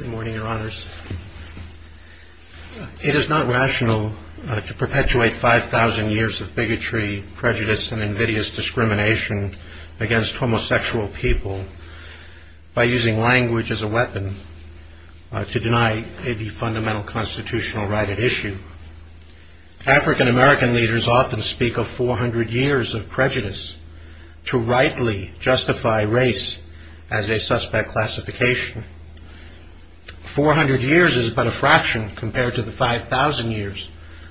It is not rational to perpetuate 5,000 years of bigotry, prejudice, and invidious discrimination against homosexual people by using language as a weapon to deny a fundamental constitutional right at issue. African American leaders often speak of 400 years of prejudice to rightly justify race as a suspect classification. 400 years is but a fraction compared to the 5,000 years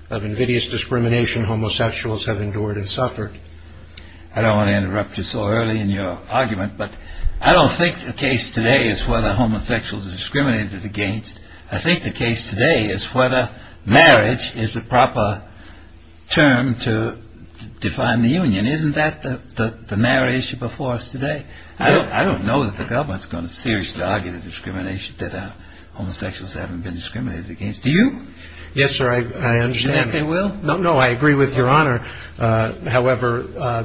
of invidious discrimination homosexuals have endured and suffered. I don't want to interrupt you so early in your argument, but I don't think the case today is whether homosexuals are discriminated against. I think the case today is whether marriage is the proper term to define the union. Isn't that the matter at issue before us today? I don't know that the government is going to seriously argue the discrimination that homosexuals haven't been discriminated against. Do you? Yes, sir, I understand. Do you think they will? No, no, I agree with your honor. However,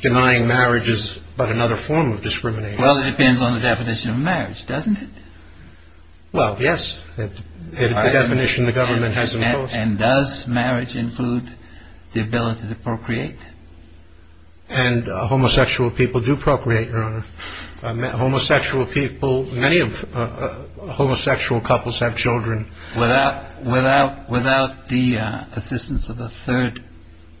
denying marriage is but another form of discrimination. Well, it depends on the definition of marriage, doesn't it? Well, yes. The definition the government has imposed. And does marriage include the ability to procreate? And homosexual people do procreate, your honor. Homosexual people, many of homosexual couples have children. Without the assistance of a third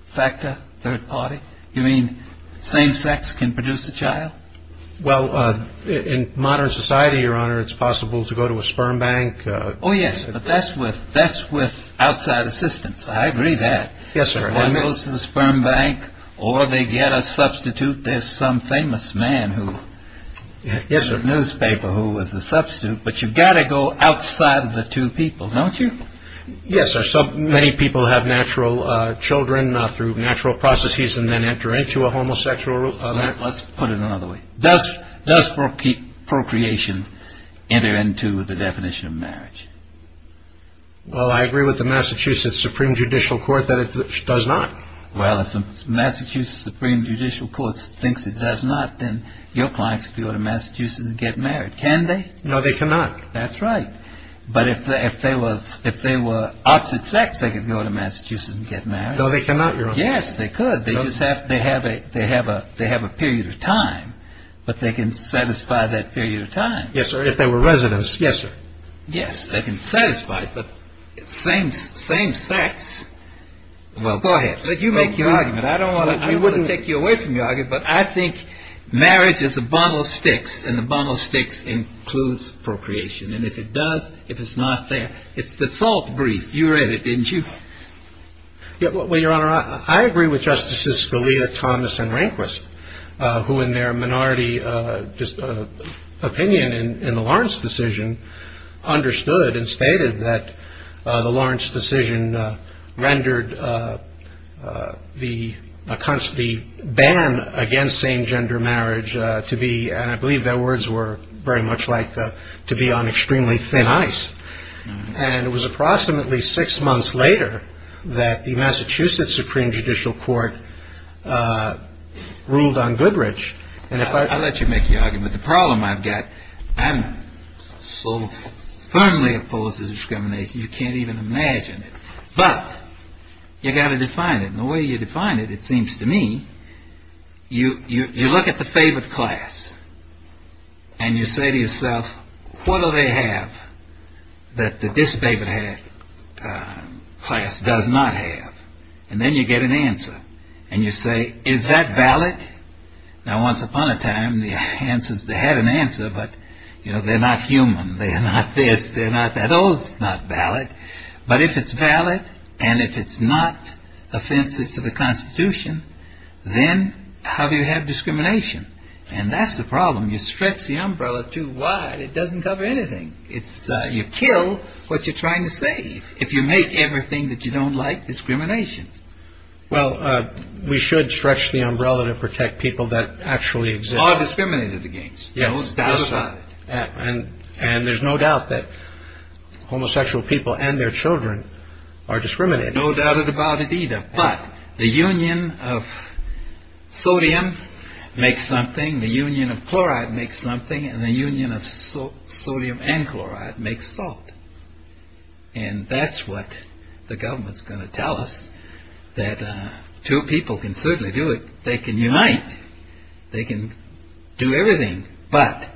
factor, third party? You mean same sex can produce a child? Well, in modern society, your honor, it's possible to go to a sperm bank. Oh, yes, but that's with outside assistance. I agree that. Yes, sir. One goes to the sperm bank or they get a substitute. There's some famous man who is a newspaper who was a substitute. But you've got to go outside of the two people, don't you? Yes, sir. Many people have natural children through natural processes and then enter into a homosexual marriage. Let's put it another way. Does procreation enter into the definition of marriage? Well, I agree with the Massachusetts Supreme Judicial Court that it does not. Well, if the Massachusetts Supreme Judicial Court thinks it does not, then your clients could go to Massachusetts and get married. Can they? No, they cannot. That's right. But if they were opposite sex, they could go to Massachusetts and get married. No, they cannot, your honor. Yes, they could. They just have to have a period of time. But they can satisfy that period of time. Yes, sir. If they were residents. Yes, sir. Yes, they can satisfy it. But same sex. Well, go ahead. You make your argument. I don't want to take you away from your argument. But I think marriage is a bundle of sticks, and a bundle of sticks includes procreation. And if it does, if it's not there, it's the salt brief. You read it, didn't you? Well, your honor, I agree with Justices Scalia, Thomas, and Rehnquist, who in their minority opinion in the Lawrence decision understood and stated that the Lawrence decision rendered the ban against same-gender marriage to be, and I believe their words were very much like a, to be on extremely thin ice. And it was approximately six months later that the Massachusetts Supreme Judicial Court ruled on Goodrich. I'll let you make your argument. The problem I've got, I'm so firmly opposed to discrimination, you can't even imagine it. But you've got to define it. And the way you define it, it they have that this class does not have? And then you get an answer. And you say, is that valid? Now, once upon a time, the answers, they had an answer, but, you know, they're not human. They're not this. They're not that. Those are not valid. But if it's valid, and if it's not offensive to the Constitution, then have you had discrimination? And that's a problem. You stretch the umbrella too wide, it doesn't cover anything. It's, you kill what you're trying to save. If you make everything that you don't like, discrimination. Well, we should stretch the umbrella to protect people that actually exist. Are discriminated against. Yes. Those doubt about it. And, and there's no doubt that homosexual people and their children are discriminated. There's no doubt about it either. But the union of sodium makes something, the union of chloride makes something, and the union of sodium and chloride makes salt. And that's what the government's going to tell us. That two people can certainly do it. They can unite. They can do everything. But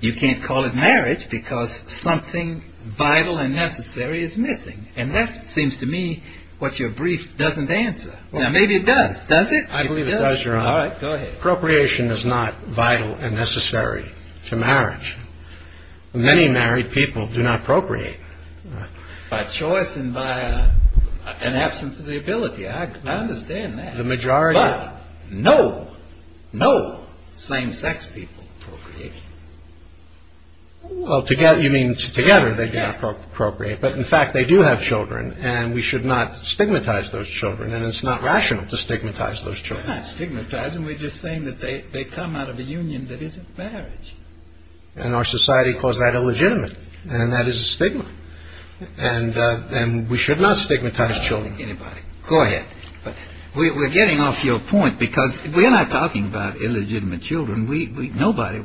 you can't call it marriage because something vital and necessary is missing. And that seems to me what your brief doesn't answer. Now, maybe it does, does it? I believe it does, Your Honor. All right, go ahead. Procreation is not vital and necessary to marriage. Many married people do not procreate. By choice and by an absence of the ability. I understand that. The majority. But no, no same-sex people procreate. Well, together, you mean together they do not procreate. But in fact, they do have children. And we should not stigmatize those children. And it's not rational to stigmatize those children. We're not stigmatizing. We're just saying that they come out of a union that isn't marriage. And our society calls that illegitimate. And that is a stigma. And we should not stigmatize children. Anybody. Go ahead. Nobody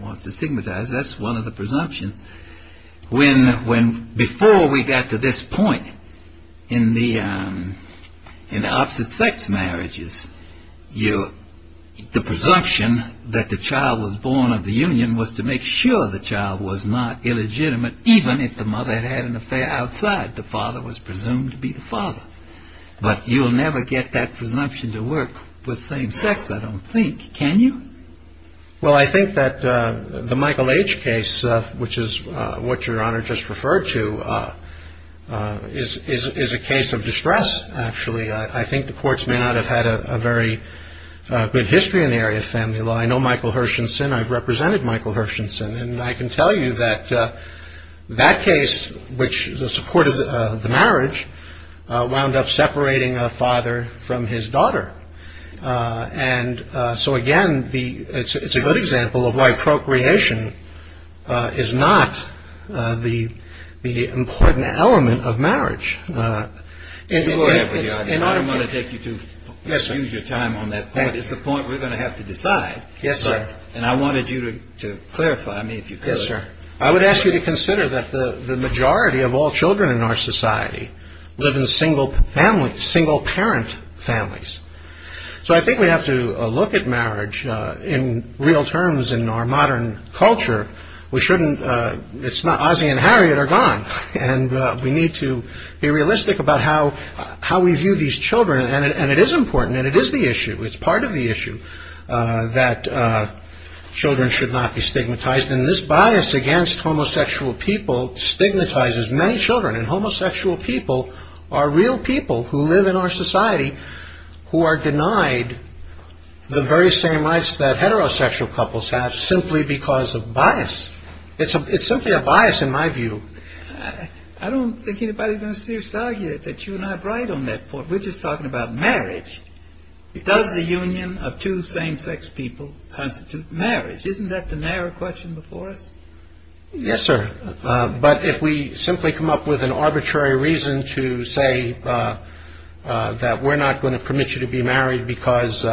wants to stigmatize. That's one of the presumptions. Before we got to this point in the opposite-sex marriages, the presumption that the child was born of the union was to make sure the child was not illegitimate, even if the mother had had an affair outside. The father was presumed to be the father. But you'll never get that presumption to work with same-sex, I don't think. Can you? Well, I think that the Michael H. case, which is what Your Honor just referred to, is a case of distress, actually. I think the courts may not have had a very good history in the area of family law. I know Michael Hershenson. I've represented Michael Hershenson. And I can tell you that that case, which supported the marriage, wound up separating a father from his daughter. And so, again, it's a good example of why procreation is not the important element of marriage. Your Honor, I don't want to take you to use your time on that point. It's a point we're going to have to decide. Yes, sir. And I wanted you to clarify me, if you could. Yes, sir. I would ask you to consider that the majority of all children in our society live in single-parent families. So I think we have to look at marriage in real terms in our modern culture. It's not Ozzie and Harriet are gone. And we need to be realistic about how we view these children. And it is important. And it is the issue. It's part of the issue that children should not be stigmatized. And this bias against homosexual people stigmatizes many children. And homosexual people are real people who live in our society who are denied the very same rights that heterosexual couples have simply because of bias. It's simply a bias, in my view. I don't think anybody's going to seriously argue that you and I are right on that point. We're just talking about marriage. Does the union of two same-sex people constitute marriage? Isn't that the narrow question before us? Yes, sir. But if we simply come up with an arbitrary reason to say that we're not going to permit you to be married because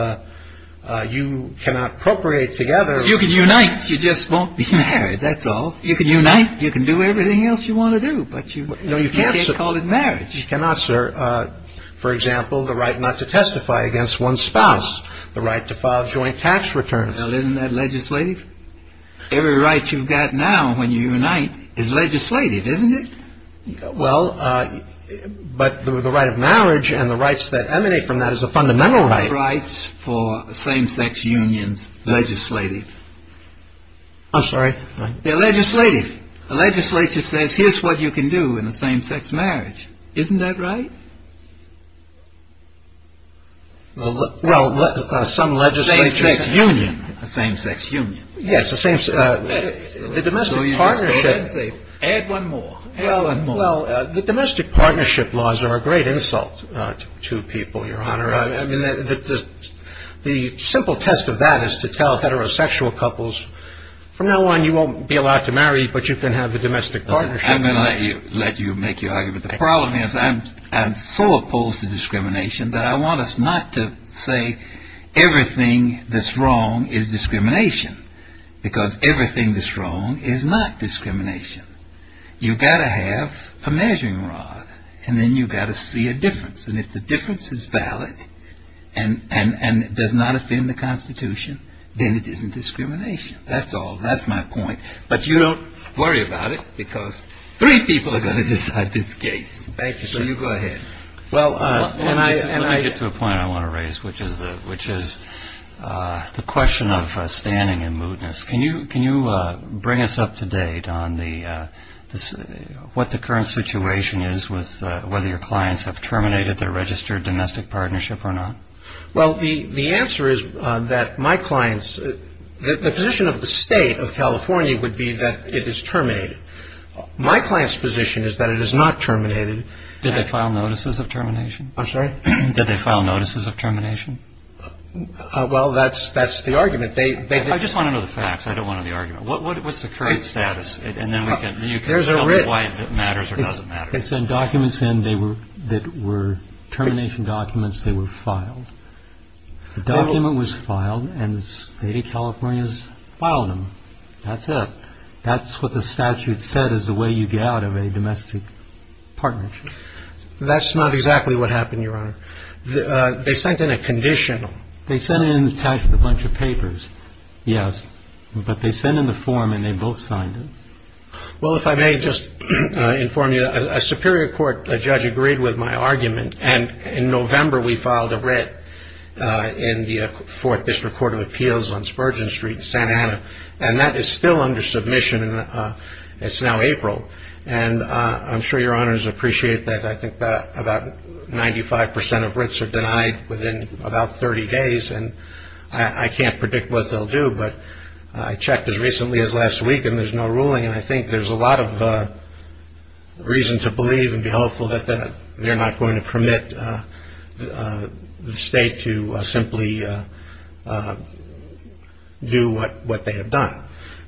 you cannot procreate together. You can unite. You just won't be married. That's all. You can unite. You can do everything else you want to do. But you can't call it marriage. You cannot, sir. For example, the right not to testify against one's spouse, the right to file joint tax returns. Well, isn't that legislative? Every right you've got now, when you unite, is legislative, isn't it? Well, but the right of marriage and the rights that emanate from that is a fundamental right. The right for same-sex unions, legislative. I'm sorry? They're legislative. The legislature says, here's what you can do in a same-sex marriage. Isn't that right? Well, some legislatures... A same-sex union. A same-sex union. A same-sex union. Yes. The domestic partnership... So you just go in and say, add one more. Add one more. Well, the domestic partnership laws are a great insult to people, Your Honor. I mean, the simple test of that is to tell heterosexual couples, from now on, you won't be allowed to marry, but you can have the domestic partnership. Listen, I'm going to let you make your argument. The problem is I'm so opposed to discrimination that I want us not to say everything that's wrong is discrimination, because everything that's wrong is not discrimination. You've got to have a measuring rod, and then you've got to see a difference. And if the difference is valid and does not offend the Constitution, then it isn't discrimination. That's all. That's my point. But you don't worry about it, because three people are going to decide this case. Thank you, sir. So you go ahead. Let me get to a point I want to raise, which is the question of standing and mootness. Can you bring us up to date on what the current situation is with whether your clients have terminated their registered domestic partnership or not? Well, the answer is that my clients... The position of the State of California would be that it is terminated. My client's position is that it is not terminated. Did they file notices of termination? I'm sorry? Did they file notices of termination? Well, that's the argument. They... I just want to know the facts. I don't want to know the argument. What's the current status? And then you can tell me why it matters or doesn't matter. They sent documents in that were termination documents. They were filed. The document was filed, and the State of California has filed them. That's it. That's what the statute said is the way you get out of a domestic partnership. That's not exactly what happened, Your Honor. They sent in a conditional. They sent in a bunch of papers, yes. But they sent in the form, and they both signed it. Well, if I may just inform you, a Superior Court judge agreed with my argument, and in November we filed a writ in the Fourth District Court of Appeals on Spurgeon Street in San Juan. That is still under submission, and it's now April. And I'm sure Your Honors appreciate that I think that about 95% of writs are denied within about 30 days, and I can't predict what they'll do, but I checked as recently as last week, and there's no ruling, and I think there's a lot of reason to believe and be hopeful that they're not going to permit the State to simply do what they have done.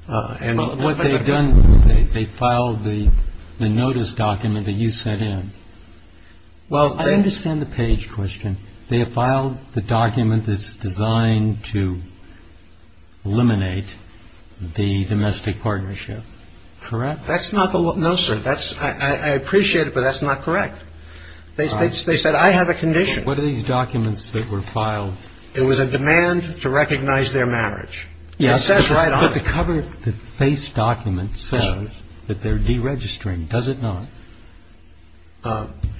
But what they've done, they filed the notice document that you sent in. I understand the page question. They have filed the document that's designed to eliminate the domestic partnership, correct? That's not the one. No, sir. I appreciate it, but that's not correct. They said, I have a condition. What are these documents that were filed? It was a demand to recognize their marriage. Yes. It says right on it. The cover of the face document says that they're deregistering. Does it not?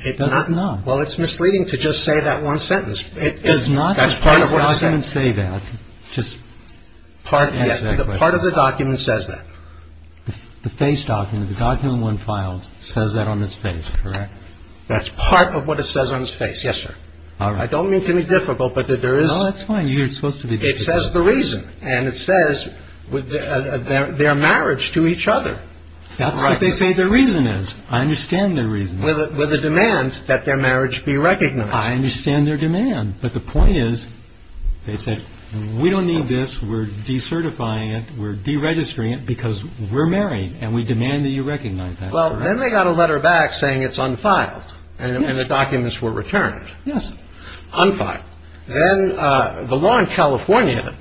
It does not. Well, it's misleading to just say that one sentence. It is not. That's part of what it says. Just part of the document says that. The face document, the document when filed, says that on its face, correct? That's part of what it says on its face. Yes, sir. All right. I don't mean to be difficult, but there is. No, that's fine. You're supposed to be difficult. It says the reason, and it says their marriage to each other. That's what they say their reason is. I understand their reason. With a demand that their marriage be recognized. I understand their demand, but the point is, they said, we don't need this. We're decertifying it. We're deregistering it because we're married, and we demand that you recognize that. Well, then they got a letter back saying it's unfiled, and the documents were returned. Yes. Unfiled. Then the law in California,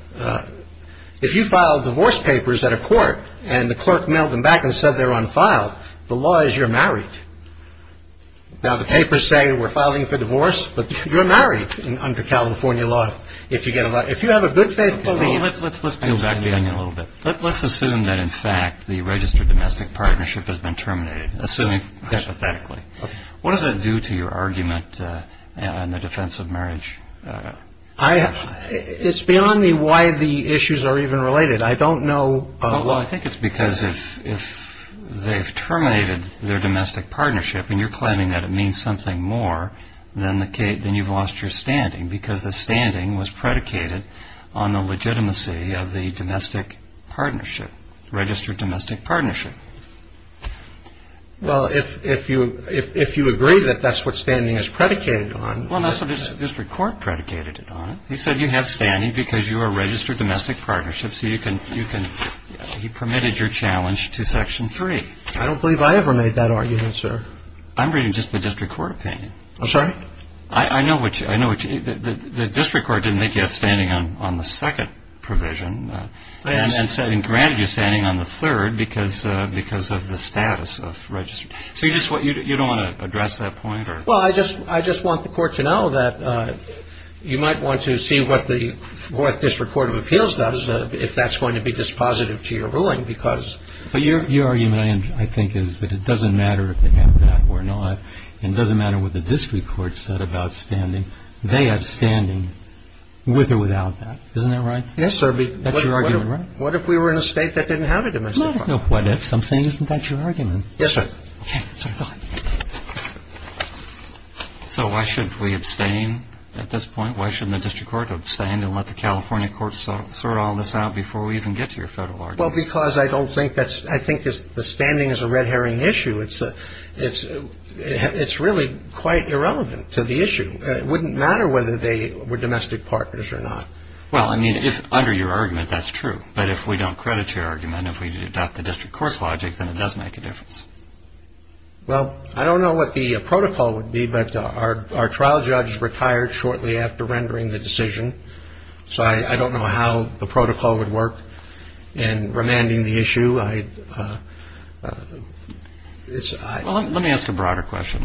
if you file divorce papers at a court and the clerk mailed them back and said they're unfiled, the law is you're married. Now, the papers say we're filing for divorce, but you're married under California law. If you get a lot, if you have a good faith, let's let's let's go back a little bit. Let's assume that, in fact, the registered domestic partnership has been terminated. Assuming hypothetically, what does that do to your argument in the defense of marriage? I have it's beyond me why the issues are even related. I don't know. Well, I think it's because if if they've terminated their domestic partnership and you're claiming that it means something more than the case, then you've lost your standing because the standing was predicated on the legitimacy of the domestic partnership, registered domestic partnership. Well, if if you if you agree that that's what standing is predicated on. Well, that's what the district court predicated on. He said you have standing because you are registered domestic partnership. So you can you can he permitted your challenge to Section three. I don't believe I ever made that argument, sir. I'm reading just the district court opinion. I'm sorry. I know what I know, which the district court didn't make yet standing on on the second provision. And then setting granted you're standing on the third because because of the status of registered. So you just what you don't want to address that point? Well, I just I just want the court to know that you might want to see what the what this report of appeals does, if that's going to be dispositive to your ruling, because your argument, I think, is that it doesn't matter if they have that or not. It doesn't matter what the district court said about standing. They have standing with or without that. Isn't that right? Yes, sir. But that's your argument. What if we were in a state that didn't have a domestic? What if something isn't that your argument? Yes, sir. So why should we abstain at this point? Why shouldn't the district court abstain and let the California courts sort all this out before we even get to your federal? Well, because I don't think that's I think the standing is a red herring issue. It's a it's it's really quite irrelevant to the issue. It wouldn't matter whether they were domestic partners or not. Well, I mean, if under your argument, that's true. But if we don't credit your argument, if we adopt the district court's logic, then it does make a difference. Well, I don't know what the protocol would be, but our our trial judge retired shortly after rendering the decision. So I don't know how the protocol would work in remanding the issue. I. Well, let me ask a broader question,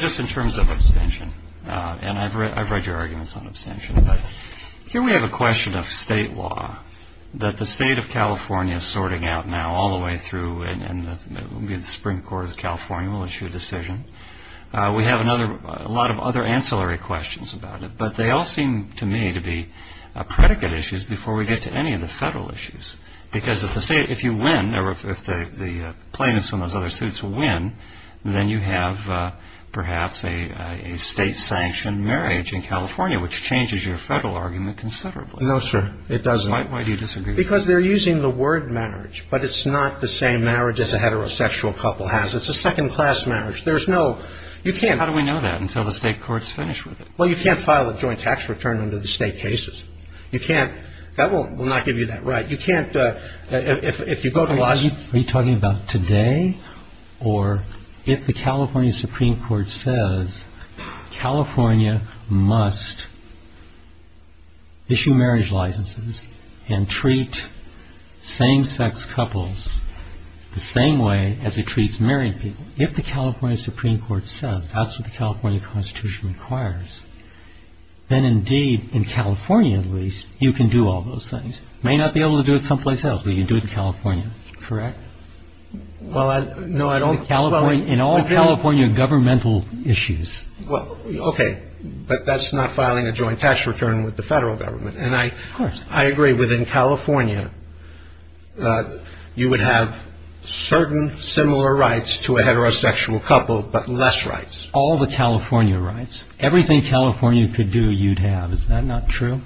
just in terms of abstention. And I've read I've read your arguments on abstention. Here we have a question of state law that the state of California is sorting out now all the way through. And it will be the Supreme Court of California will issue a decision. We have another a lot of other ancillary questions about it, but they all seem to me to be a predicate issues before we get to any of the federal issues. Because if the state if you win or if the plaintiffs on those other suits will win, then you have perhaps a state sanctioned marriage in California, which changes your federal argument considerably. No, sir, it doesn't. Why do you disagree? Because they're using the word marriage, but it's not the same marriage as a heterosexual couple has. It's a second class marriage. There's no you can't. How do we know that until the state courts finish with it? Well, you can't file a joint tax return under the state cases. You can't. That will not give you that right. You can't. If you go to the lobby, are you talking about today or if the California Supreme Court says California must. Issue marriage licenses and treat same sex couples the same way as it treats married people. If the California Supreme Court says that's what the California Constitution requires, then indeed, in California, at least, you can do all those things. May not be able to do it someplace else, but you do it in California. Correct. Well, no, I don't. California in all California governmental issues. Well, OK. But that's not filing a joint tax return with the federal government. And I, of course, I agree with in California that you would have certain similar rights to a heterosexual couple, but less rights. All the California rights. Everything California could do. You'd have. Is that not true?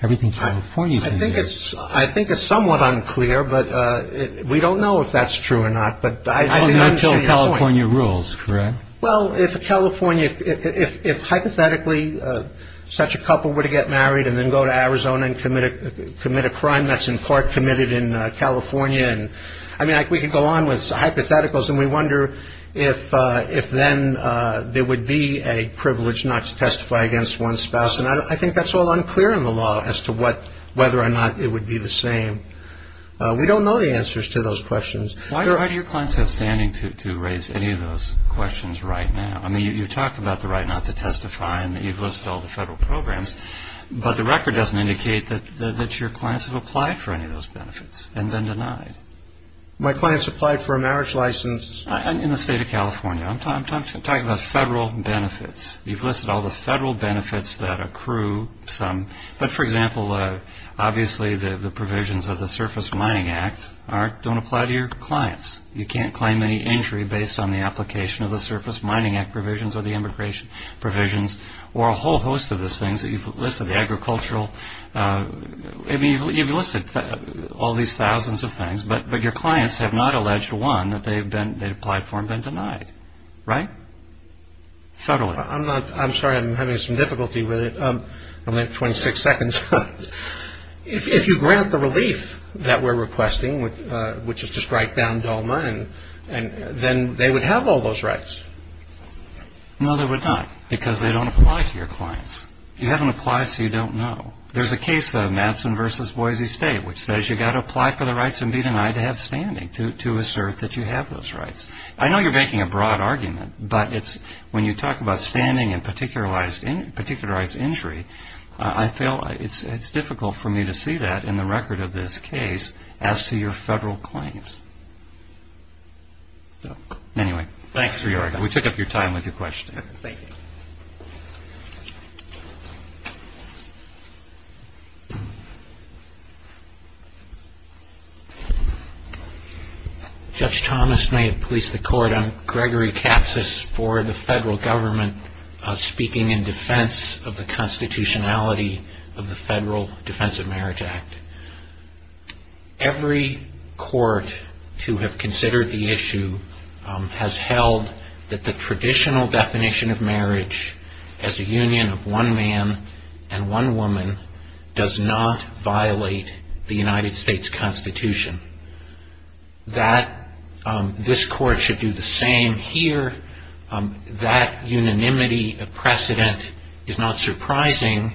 Everything for you. I think it's I think it's somewhat unclear, but we don't know if that's true or not. But I don't know until California rules. Correct. Well, if California, if hypothetically such a couple were to get married and then go to Arizona and commit commit a crime, that's in part committed in California. And I mean, we could go on with hypotheticals and we wonder if if then there would be a privilege not to testify against one spouse. And I think that's all unclear in the law as to what whether or not it would be the same. We don't know the answers to those questions. Why do your clients have standing to raise any of those questions right now? I mean, you talk about the right not to testify and that you've listed all the federal programs, but the record doesn't indicate that that your clients have applied for any of those benefits and then denied. My clients applied for a marriage license in the state of California. I'm talking about federal benefits. You've listed all the federal benefits that accrue some. But for example, obviously, the provisions of the Surface Mining Act aren't don't apply to your clients. You can't claim any injury based on the application of the Surface Mining Act provisions or the immigration provisions or a whole host of those things that you've listed, the agricultural. I mean, you've listed all these thousands of things, but your clients have not alleged one that they've been they've applied for and been denied. Right. Federally, I'm not I'm sorry, I'm having some difficulty with it. I'm at 26 seconds. If you grant the relief that we're requesting, which is to strike down DOMA and then they would have all those rights. No, they would not because they don't apply to your clients. You haven't applied. So you don't know. There's a case of Madison versus Boise State, which says you got to apply for the rights and be denied to have standing to to assert that you have those rights. I know you're making a broad argument, but it's when you talk about standing and particularized in particularized injury. I feel it's it's difficult for me to see that in the record of this case as to your federal claims. So anyway, thanks for your time. We took up your time with your question. Thank you. Judge Thomas may have placed the court on Gregory Katz's for the federal government, speaking in defense of the constitutionality of the Federal Defense of Marriage Act. Every court to have considered the issue has held that the traditional definition of marriage as a union of one man and one woman does not violate the United States Constitution. That this court should do the same here. That unanimity of precedent is not surprising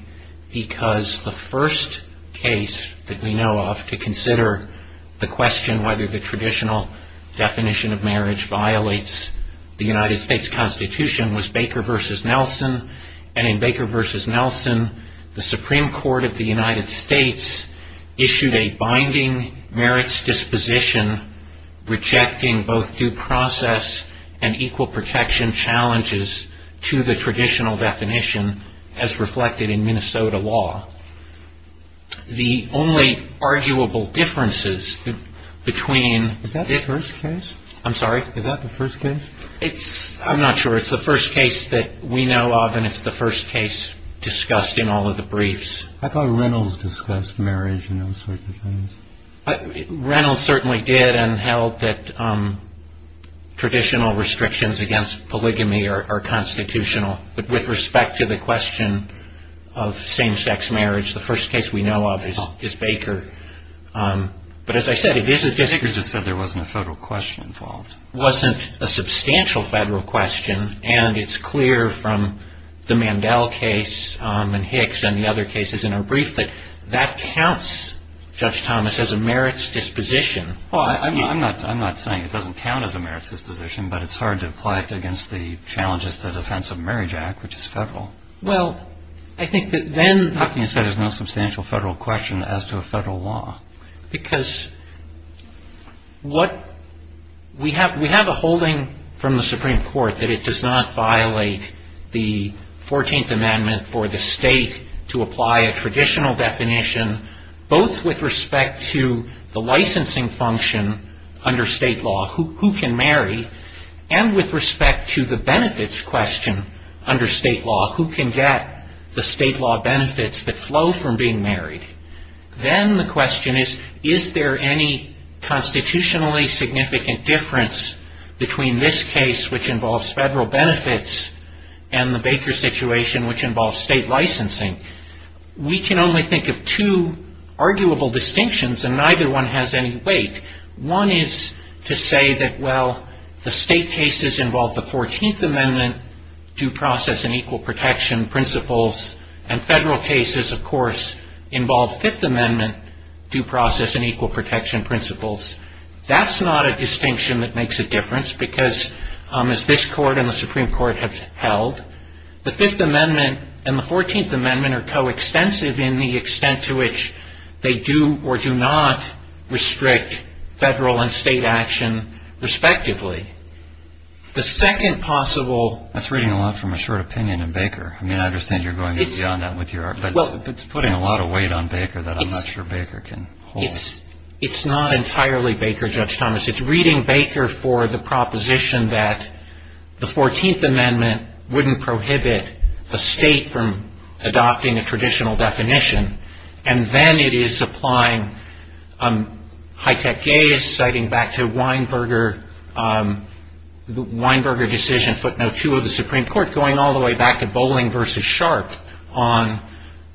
because the first case that we know of to consider the question whether the traditional definition of marriage violates the United States Constitution was Baker versus Nelson. And in Baker versus Nelson, the Supreme Court of the United States issued a binding merits disposition, rejecting both due process and equal protection challenges to the traditional definition as reflected in Minnesota law. The only arguable differences between... Is that the first case? I'm sorry? Is that the first case? I'm not sure. It's the first case that we know of, and it's the first case discussed in all of the briefs. I thought Reynolds discussed marriage and those sorts of things. Reynolds certainly did and held that traditional restrictions against polygamy are constitutional. But with respect to the question of same-sex marriage, the first case we know of is Baker. But as I said... Baker just said there wasn't a federal question involved. It wasn't a substantial federal question, and it's clear from the Mandel case and Hicks and the other cases in our brief that that counts, Judge Thomas, as a merits disposition. I'm not saying it doesn't count as a merits disposition, but it's hard to apply it against the challenges to the Defense of Marriage Act, which is federal. Well, I think that then... Huckney said there's no substantial federal question as to a federal law. Because what... We have a holding from the Supreme Court that it does not violate the 14th Amendment for the state to apply a traditional definition, both with respect to the licensing function under state law, who can marry, and with respect to the benefits question under state law, who can get the state law benefits that flow from being married. Then the question is, is there any constitutionally significant difference between this case, which involves federal benefits, and the Baker situation, which involves state licensing? We can only think of two arguable distinctions, and neither one has any weight. One is to say that, well, the state cases involve the 14th Amendment, due process and equal protection principles, and federal cases, of course, involve Fifth Amendment due process and equal protection principles. That's not a distinction that makes a difference, because, as this Court and the Supreme Court have held, the Fifth Amendment and the 14th Amendment are coextensive in the extent to which they do or do not restrict federal and state action, respectively. The second possible... It's putting a lot of weight on Baker that I'm not sure Baker can hold. It's not entirely Baker, Judge Thomas. It's reading Baker for the proposition that the 14th Amendment wouldn't prohibit a state from adopting a traditional definition, and then it is applying high-tech gaze, citing back to Weinberger decision footnote 2 of the Supreme Court, going all the way back to Bolling v. Sharp on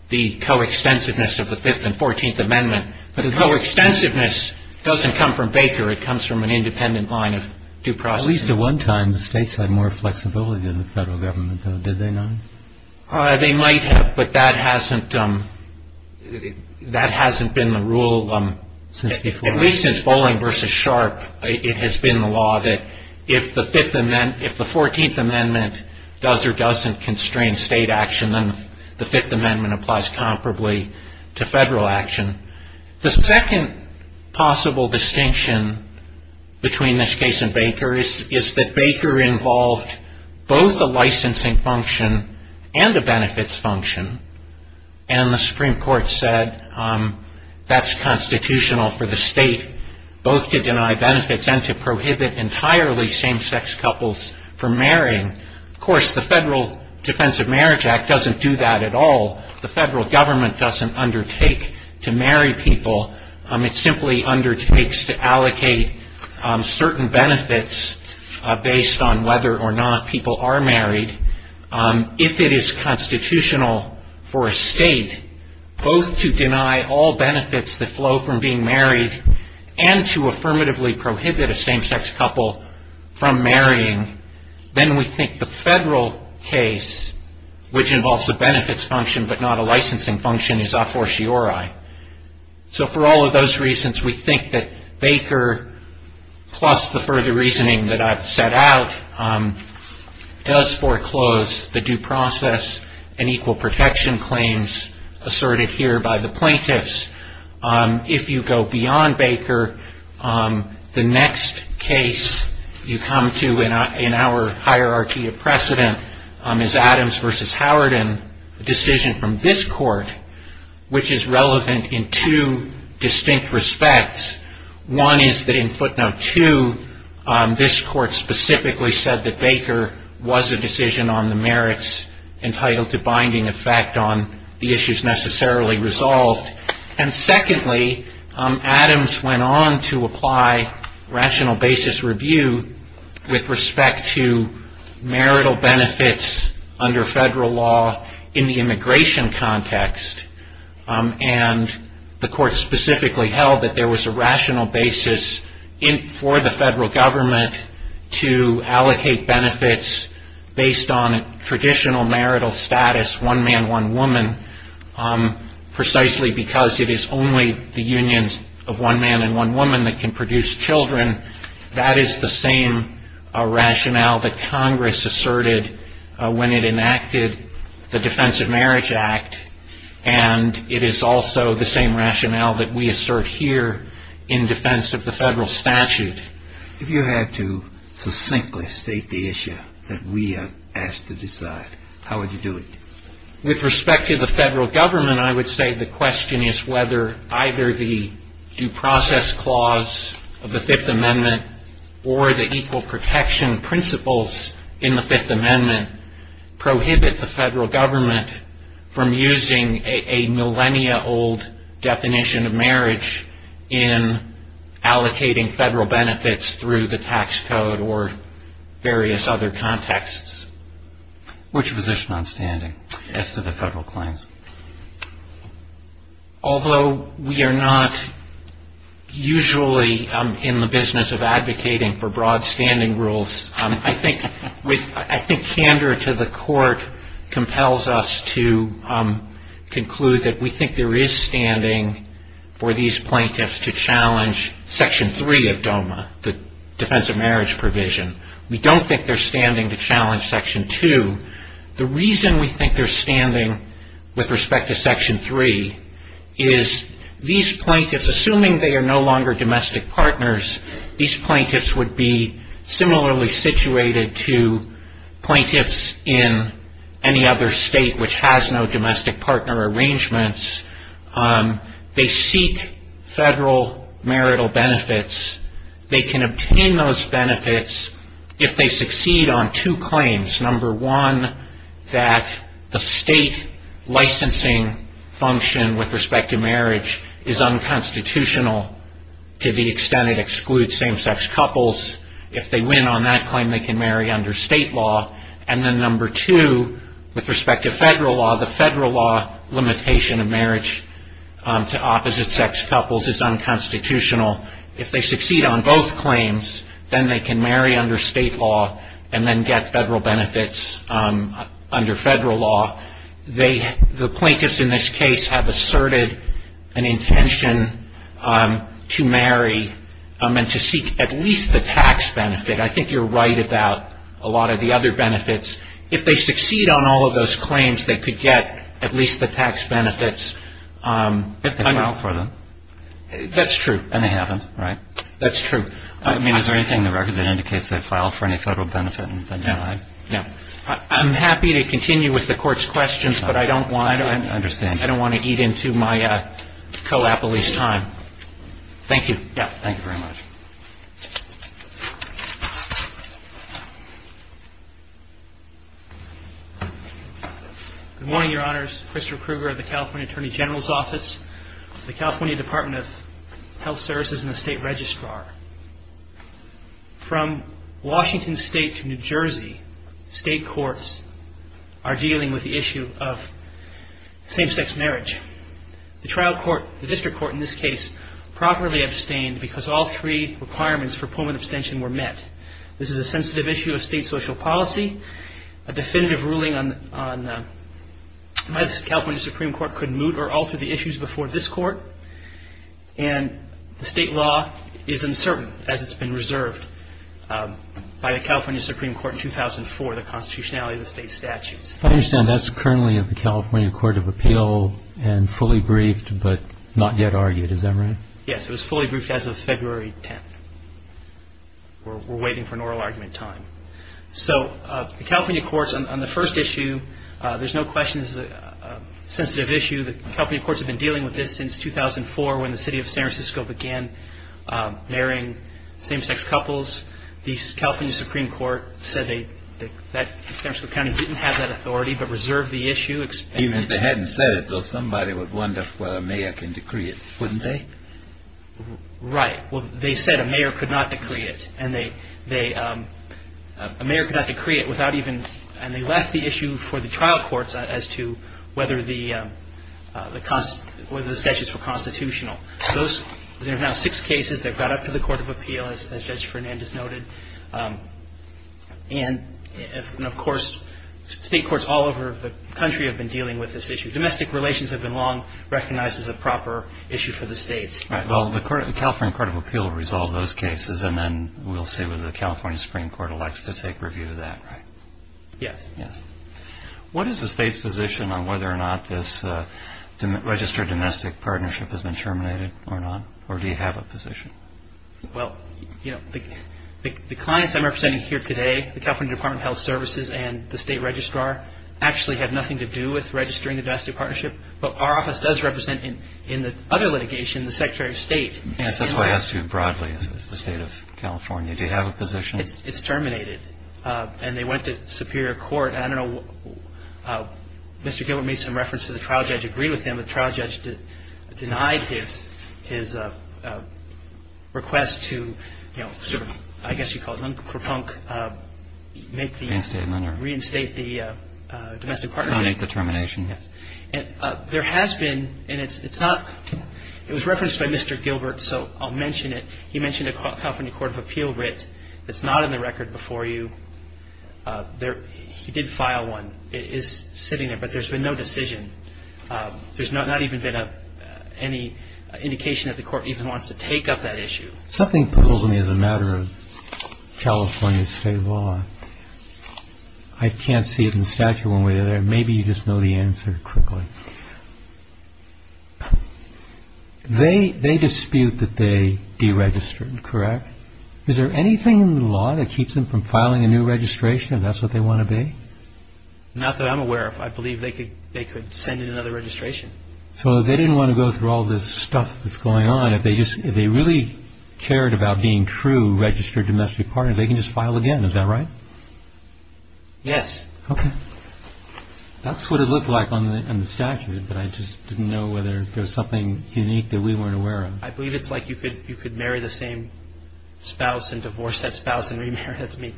the coextensiveness of the Fifth and 14th Amendment. But the coextensiveness doesn't come from Baker. It comes from an independent line of due process. At least at one time, the states had more flexibility than the federal government, though, did they not? They might have, but that hasn't been the rule, at least since Bolling v. Sharp. It has been the law that if the 14th Amendment does or doesn't constrain state action, then the Fifth Amendment applies comparably to federal action. The second possible distinction between this case and Baker is that Baker involved both a licensing function and a benefits function, and the Supreme Court said that's constitutional for the state both to deny benefits and to prohibit entirely same-sex couples from marrying. Of course, the Federal Defense of Marriage Act doesn't do that at all. The federal government doesn't undertake to marry people. It simply undertakes to allocate certain benefits based on whether or not people are married. If it is constitutional for a state both to deny all benefits that flow from being married and to affirmatively prohibit a same-sex couple from marrying, then we think the federal case, which involves a benefits function but not a licensing function, is a fortiori. For all of those reasons, we think that Baker, plus the further reasoning that I've set out, does foreclose the due process and equal protection claims asserted here by the plaintiffs. If you go beyond Baker, the next case you come to in our hierarchy of precedent is Adams v. Howard and the decision from this court, which is relevant in two distinct respects. One is that in footnote 2, this court specifically said that Baker was a decision on the merits entitled to binding effect on the issues necessarily resolved. Secondly, Adams went on to apply rational basis review with respect to marital benefits under federal law in the immigration context. The court specifically held that there was a rational basis for the federal government to allocate benefits based on traditional marital status, one man, one woman, precisely because it is only the unions of one man and one woman that can produce children. That is the same rationale that Congress asserted when it enacted the Defense of Marriage Act, and it is also the same rationale that we assert here in defense of the federal statute. If you had to succinctly state the issue that we are asked to decide, how would you do it? With respect to the federal government, I would say the question is whether either the due process clause of the Fifth Amendment or the equal protection principles in the Fifth Amendment prohibit the federal government from using a millennia-old definition of marriage in allocating federal benefits through the tax code or various other contexts. Which position on standing as to the federal claims? Although we are not usually in the business of advocating for broad standing rules, I think candor to the court compels us to conclude that we think there is standing for these plaintiffs to challenge Section 3 of DOMA, the Defense of Marriage provision. We don't think they are standing to challenge Section 2. The reason we think they are standing with respect to Section 3 is these plaintiffs, assuming they are no longer domestic partners, these plaintiffs would be similarly situated to plaintiffs in any other state which has no domestic partner arrangements. They seek federal marital benefits. They can obtain those benefits if they succeed on two claims. Number one, that the state licensing function with respect to marriage is unconstitutional to the extent it excludes same-sex couples. If they win on that claim, they can marry under state law. And then number two, with respect to federal law, the federal law limitation of marriage to opposite-sex couples is unconstitutional. If they succeed on both claims, then they can marry under state law and then get federal benefits under federal law. The plaintiffs in this case have asserted an intention to marry and to seek at least the tax benefit. I think you're right about a lot of the other benefits. If they succeed on all of those claims, they could get at least the tax benefits. If they file for them. That's true. And they haven't, right? That's true. I mean, is there anything in the record that indicates they filed for any federal benefit? No. I'm happy to continue with the Court's questions, but I don't want to eat into my coapolis time. Thank you. Thank you very much. Good morning, Your Honors. Christopher Krueger of the California Attorney General's Office, the California Department of Health Services and the State Registrar. From Washington State to New Jersey, state courts are dealing with the issue of same-sex marriage. The trial court, the district court in this case, properly abstained because all three requirements for pullman abstention were met. This is a sensitive issue of state social policy. A definitive ruling on whether the California Supreme Court could moot or alter the issues before this court. And the state law is uncertain as it's been reserved by the California Supreme Court in 2004, the constitutionality of the state statutes. I understand that's currently in the California Court of Appeal and fully briefed but not yet argued, is that right? Yes, it was fully briefed as of February 10th. We're waiting for an oral argument time. So the California courts on the first issue, there's no question this is a sensitive issue. The California courts have been dealing with this since 2004 when the city of San Francisco began marrying same-sex couples. The California Supreme Court said that San Francisco County didn't have that authority but reserved the issue. Even if they hadn't said it, though, somebody would wonder whether a mayor can decree it, wouldn't they? Right. Well, they said a mayor could not decree it. And they left the issue for the trial courts as to whether the statutes were constitutional. There are now six cases that got up to the Court of Appeal, as Judge Fernandez noted. And, of course, state courts all over the country have been dealing with this issue. Domestic relations have been long recognized as a proper issue for the states. Right. Well, the California Court of Appeal will resolve those cases and then we'll see whether the California Supreme Court elects to take review of that, right? Yes. What is the state's position on whether or not this registered domestic partnership has been terminated or not? Or do you have a position? Well, you know, the clients I'm representing here today, the California Department of Health Services and the state registrar, actually have nothing to do with registering the domestic partnership. But our office does represent, in the other litigation, the Secretary of State. That's why I asked you broadly. It's the state of California. Do you have a position? It's terminated. And they went to Superior Court. And I don't know. Mr. Gilbert made some reference to the trial judge agreed with him. The trial judge denied his request to, you know, sort of, I guess you'd call it, unpropunk, make the. Reinstate the. Reinstate the domestic partnership. Termination. Yes. There has been. And it's not. It was referenced by Mr. Gilbert, so I'll mention it. He mentioned a California Court of Appeal writ that's not in the record before you. He did file one. It is sitting there. But there's been no decision. There's not even been any indication that the court even wants to take up that issue. Something puzzles me as a matter of California state law. I can't see it in the statute one way or the other. Maybe you just know the answer quickly. OK. They they dispute that they deregistered. Correct. Is there anything in the law that keeps them from filing a new registration? That's what they want to be. Not that I'm aware of. I believe they could they could send in another registration. So they didn't want to go through all this stuff that's going on. If they just if they really cared about being true registered domestic partner, they can just file again. Is that right? Yes. OK. That's what it looked like on the statute. But I just didn't know whether there's something unique that we weren't aware of. I believe it's like you could you could marry the same spouse and divorce that spouse and remarry. I mean,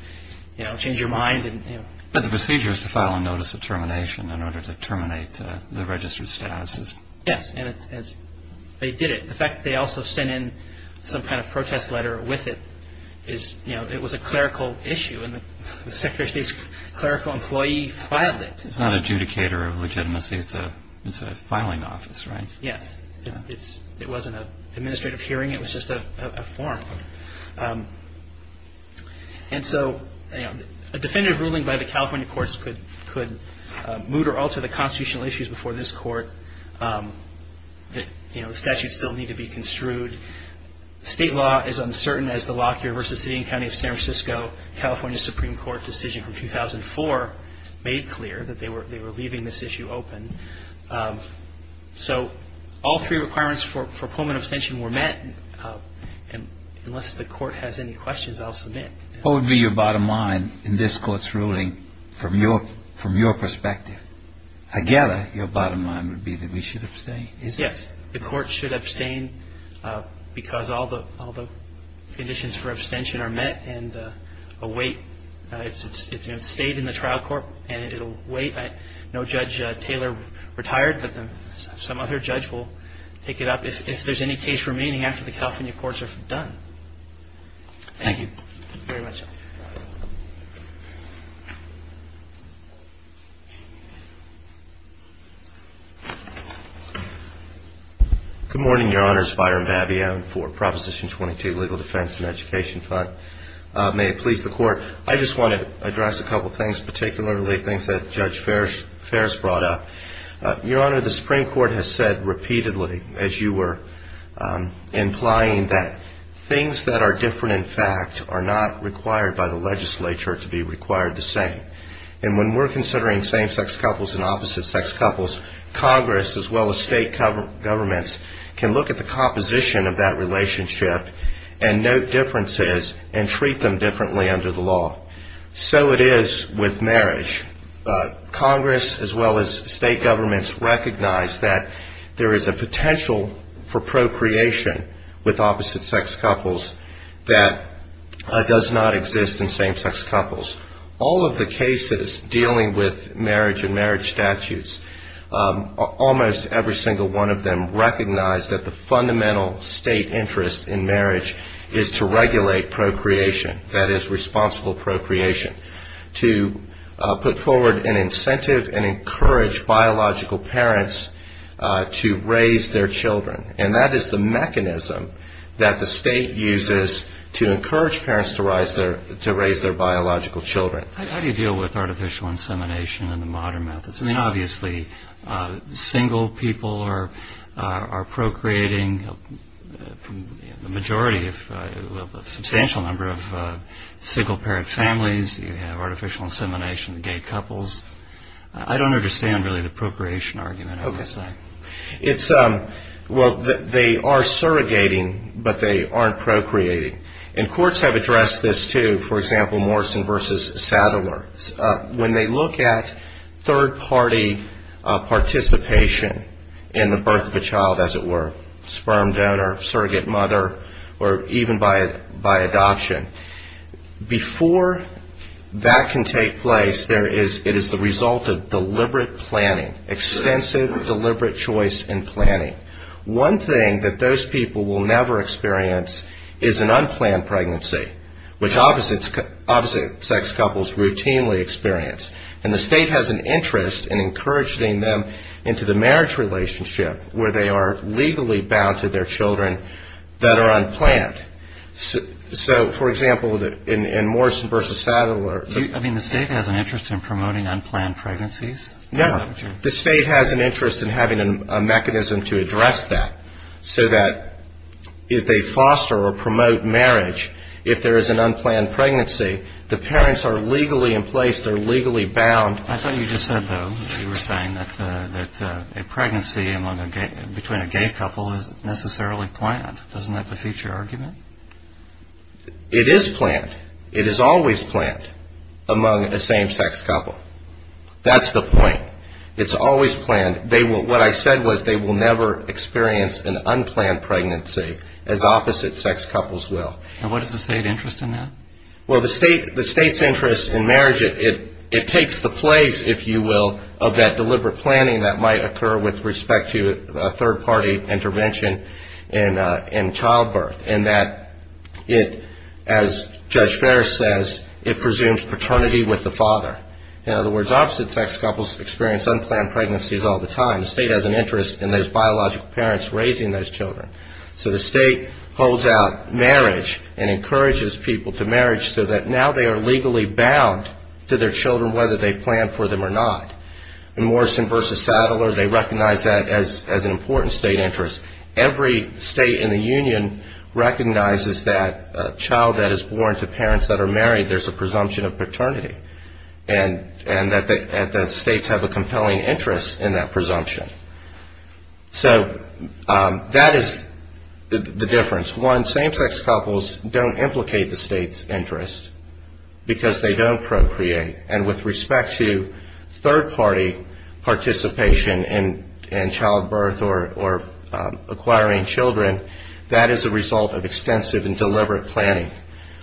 you know, change your mind. And the procedure is to file a notice of termination in order to terminate the registered status. Yes. And as they did it, the fact they also sent in some kind of protest letter with it is, you know, it was a clerical issue and the secretary's clerical employee filed it. It's not adjudicator of legitimacy. It's a it's a filing office. Right. Yes. It's it wasn't an administrative hearing. It was just a form. And so a definitive ruling by the California courts could could moot or alter the constitutional issues before this court. You know, the statutes still need to be construed. State law is uncertain as the Lockyer v. City and County of San Francisco, California Supreme Court decision from 2004, made clear that they were they were leaving this issue open. So all three requirements for for Pullman abstention were met. And unless the court has any questions, I'll submit. What would be your bottom line in this court's ruling from your from your perspective? I gather your bottom line would be that we should abstain. Yes. The court should abstain because all the all the conditions for abstention are met and await. It's a state in the trial court and it'll wait. I know Judge Taylor retired. Some other judge will pick it up if there's any case remaining after the California courts are done. Thank you very much. Good morning, Your Honors. Byron Babbion for Proposition 22, Legal Defense and Education Fund. May it please the court. I just want to address a couple of things, particularly things that Judge Ferris brought up. Your Honor, the Supreme Court has said repeatedly, as you were implying, that things that are different, in fact, are not required by the legislature to be required the same. And when we're considering same sex couples and opposite sex couples, Congress, as well as state governments, can look at the composition of that relationship and note differences and treat them differently under the law. So it is with marriage. Congress, as well as state governments, recognize that there is a potential for procreation with opposite sex couples that does not exist in same sex couples. All of the cases dealing with marriage and marriage statutes, almost every single one of them recognize that the fundamental state interest in marriage is to regulate procreation, that is responsible procreation, to put forward an incentive and encourage biological parents to raise their children. And that is the mechanism that the state uses to encourage parents to raise their biological children. How do you deal with artificial insemination and the modern methods? I mean, obviously, single people are procreating. The majority have a substantial number of single-parent families. You have artificial insemination in gay couples. I don't understand, really, the procreation argument, I would say. Well, they are surrogating, but they aren't procreating. And courts have addressed this, too. For example, Morrison v. Sadler. When they look at third-party participation in the birth of a child, as it were, sperm donor, surrogate mother, or even by adoption, before that can take place, it is the result of deliberate planning, extensive, deliberate choice and planning. One thing that those people will never experience is an unplanned pregnancy, which obviously sex couples routinely experience. And the state has an interest in encouraging them into the marriage relationship where they are legally bound to their children that are unplanned. So, for example, in Morrison v. Sadler. I mean, the state has an interest in promoting unplanned pregnancies? No. The state has an interest in having a mechanism to address that so that if they foster or promote marriage, if there is an unplanned pregnancy, the parents are legally in place, they're legally bound. I thought you just said, though, you were saying that a pregnancy between a gay couple isn't necessarily planned. Isn't that the future argument? It is planned. It is always planned among a same-sex couple. That's the point. It's always planned. What I said was they will never experience an unplanned pregnancy, as opposite-sex couples will. And what is the state interest in that? Well, the state's interest in marriage, it takes the place, if you will, of that deliberate planning that might occur with respect to a third-party intervention in childbirth. And that, as Judge Ferris says, it presumes paternity with the father. In other words, opposite-sex couples experience unplanned pregnancies all the time. The state has an interest in those biological parents raising those children. So the state holds out marriage and encourages people to marriage so that now they are legally bound to their children whether they plan for them or not. In Morrison v. Sadler, they recognize that as an important state interest. Every state in the union recognizes that a child that is born to parents that are married, there's a presumption of paternity. And the states have a compelling interest in that presumption. So that is the difference. One, same-sex couples don't implicate the state's interest because they don't procreate. And with respect to third-party participation in childbirth or acquiring children, that is a result of extensive and deliberate planning.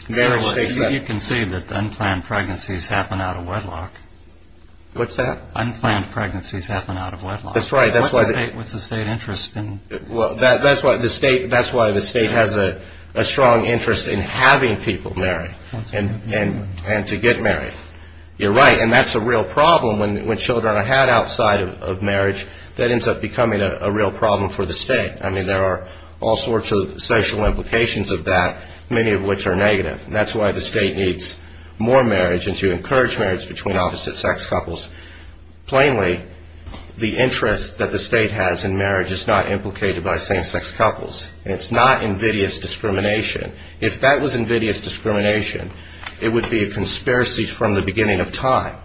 You can see that unplanned pregnancies happen out of wedlock. What's that? Unplanned pregnancies happen out of wedlock. That's right. What's the state interest in? That's why the state has a strong interest in having people marry and to get married. You're right. And that's a real problem. When children are had outside of marriage, that ends up becoming a real problem for the state. I mean, there are all sorts of social implications of that, many of which are negative. And that's why the state needs more marriage and to encourage marriage between opposite-sex couples. Plainly, the interest that the state has in marriage is not implicated by same-sex couples. And it's not invidious discrimination. If that was invidious discrimination, it would be a conspiracy from the beginning of time.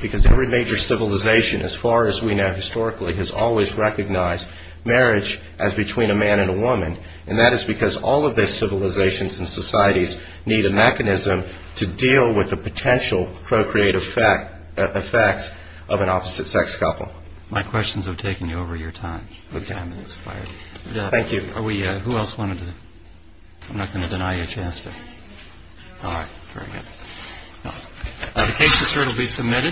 Because every major civilization, as far as we know historically, has always recognized marriage as between a man and a woman. And that is because all of those civilizations and societies need a mechanism to deal with the potential procreative effects of an opposite-sex couple. My questions have taken you over your time. Okay. Time has expired. Thank you. Who else wanted to? I'm not going to deny you a chance to. All right. Very good. The case is certainly submitted.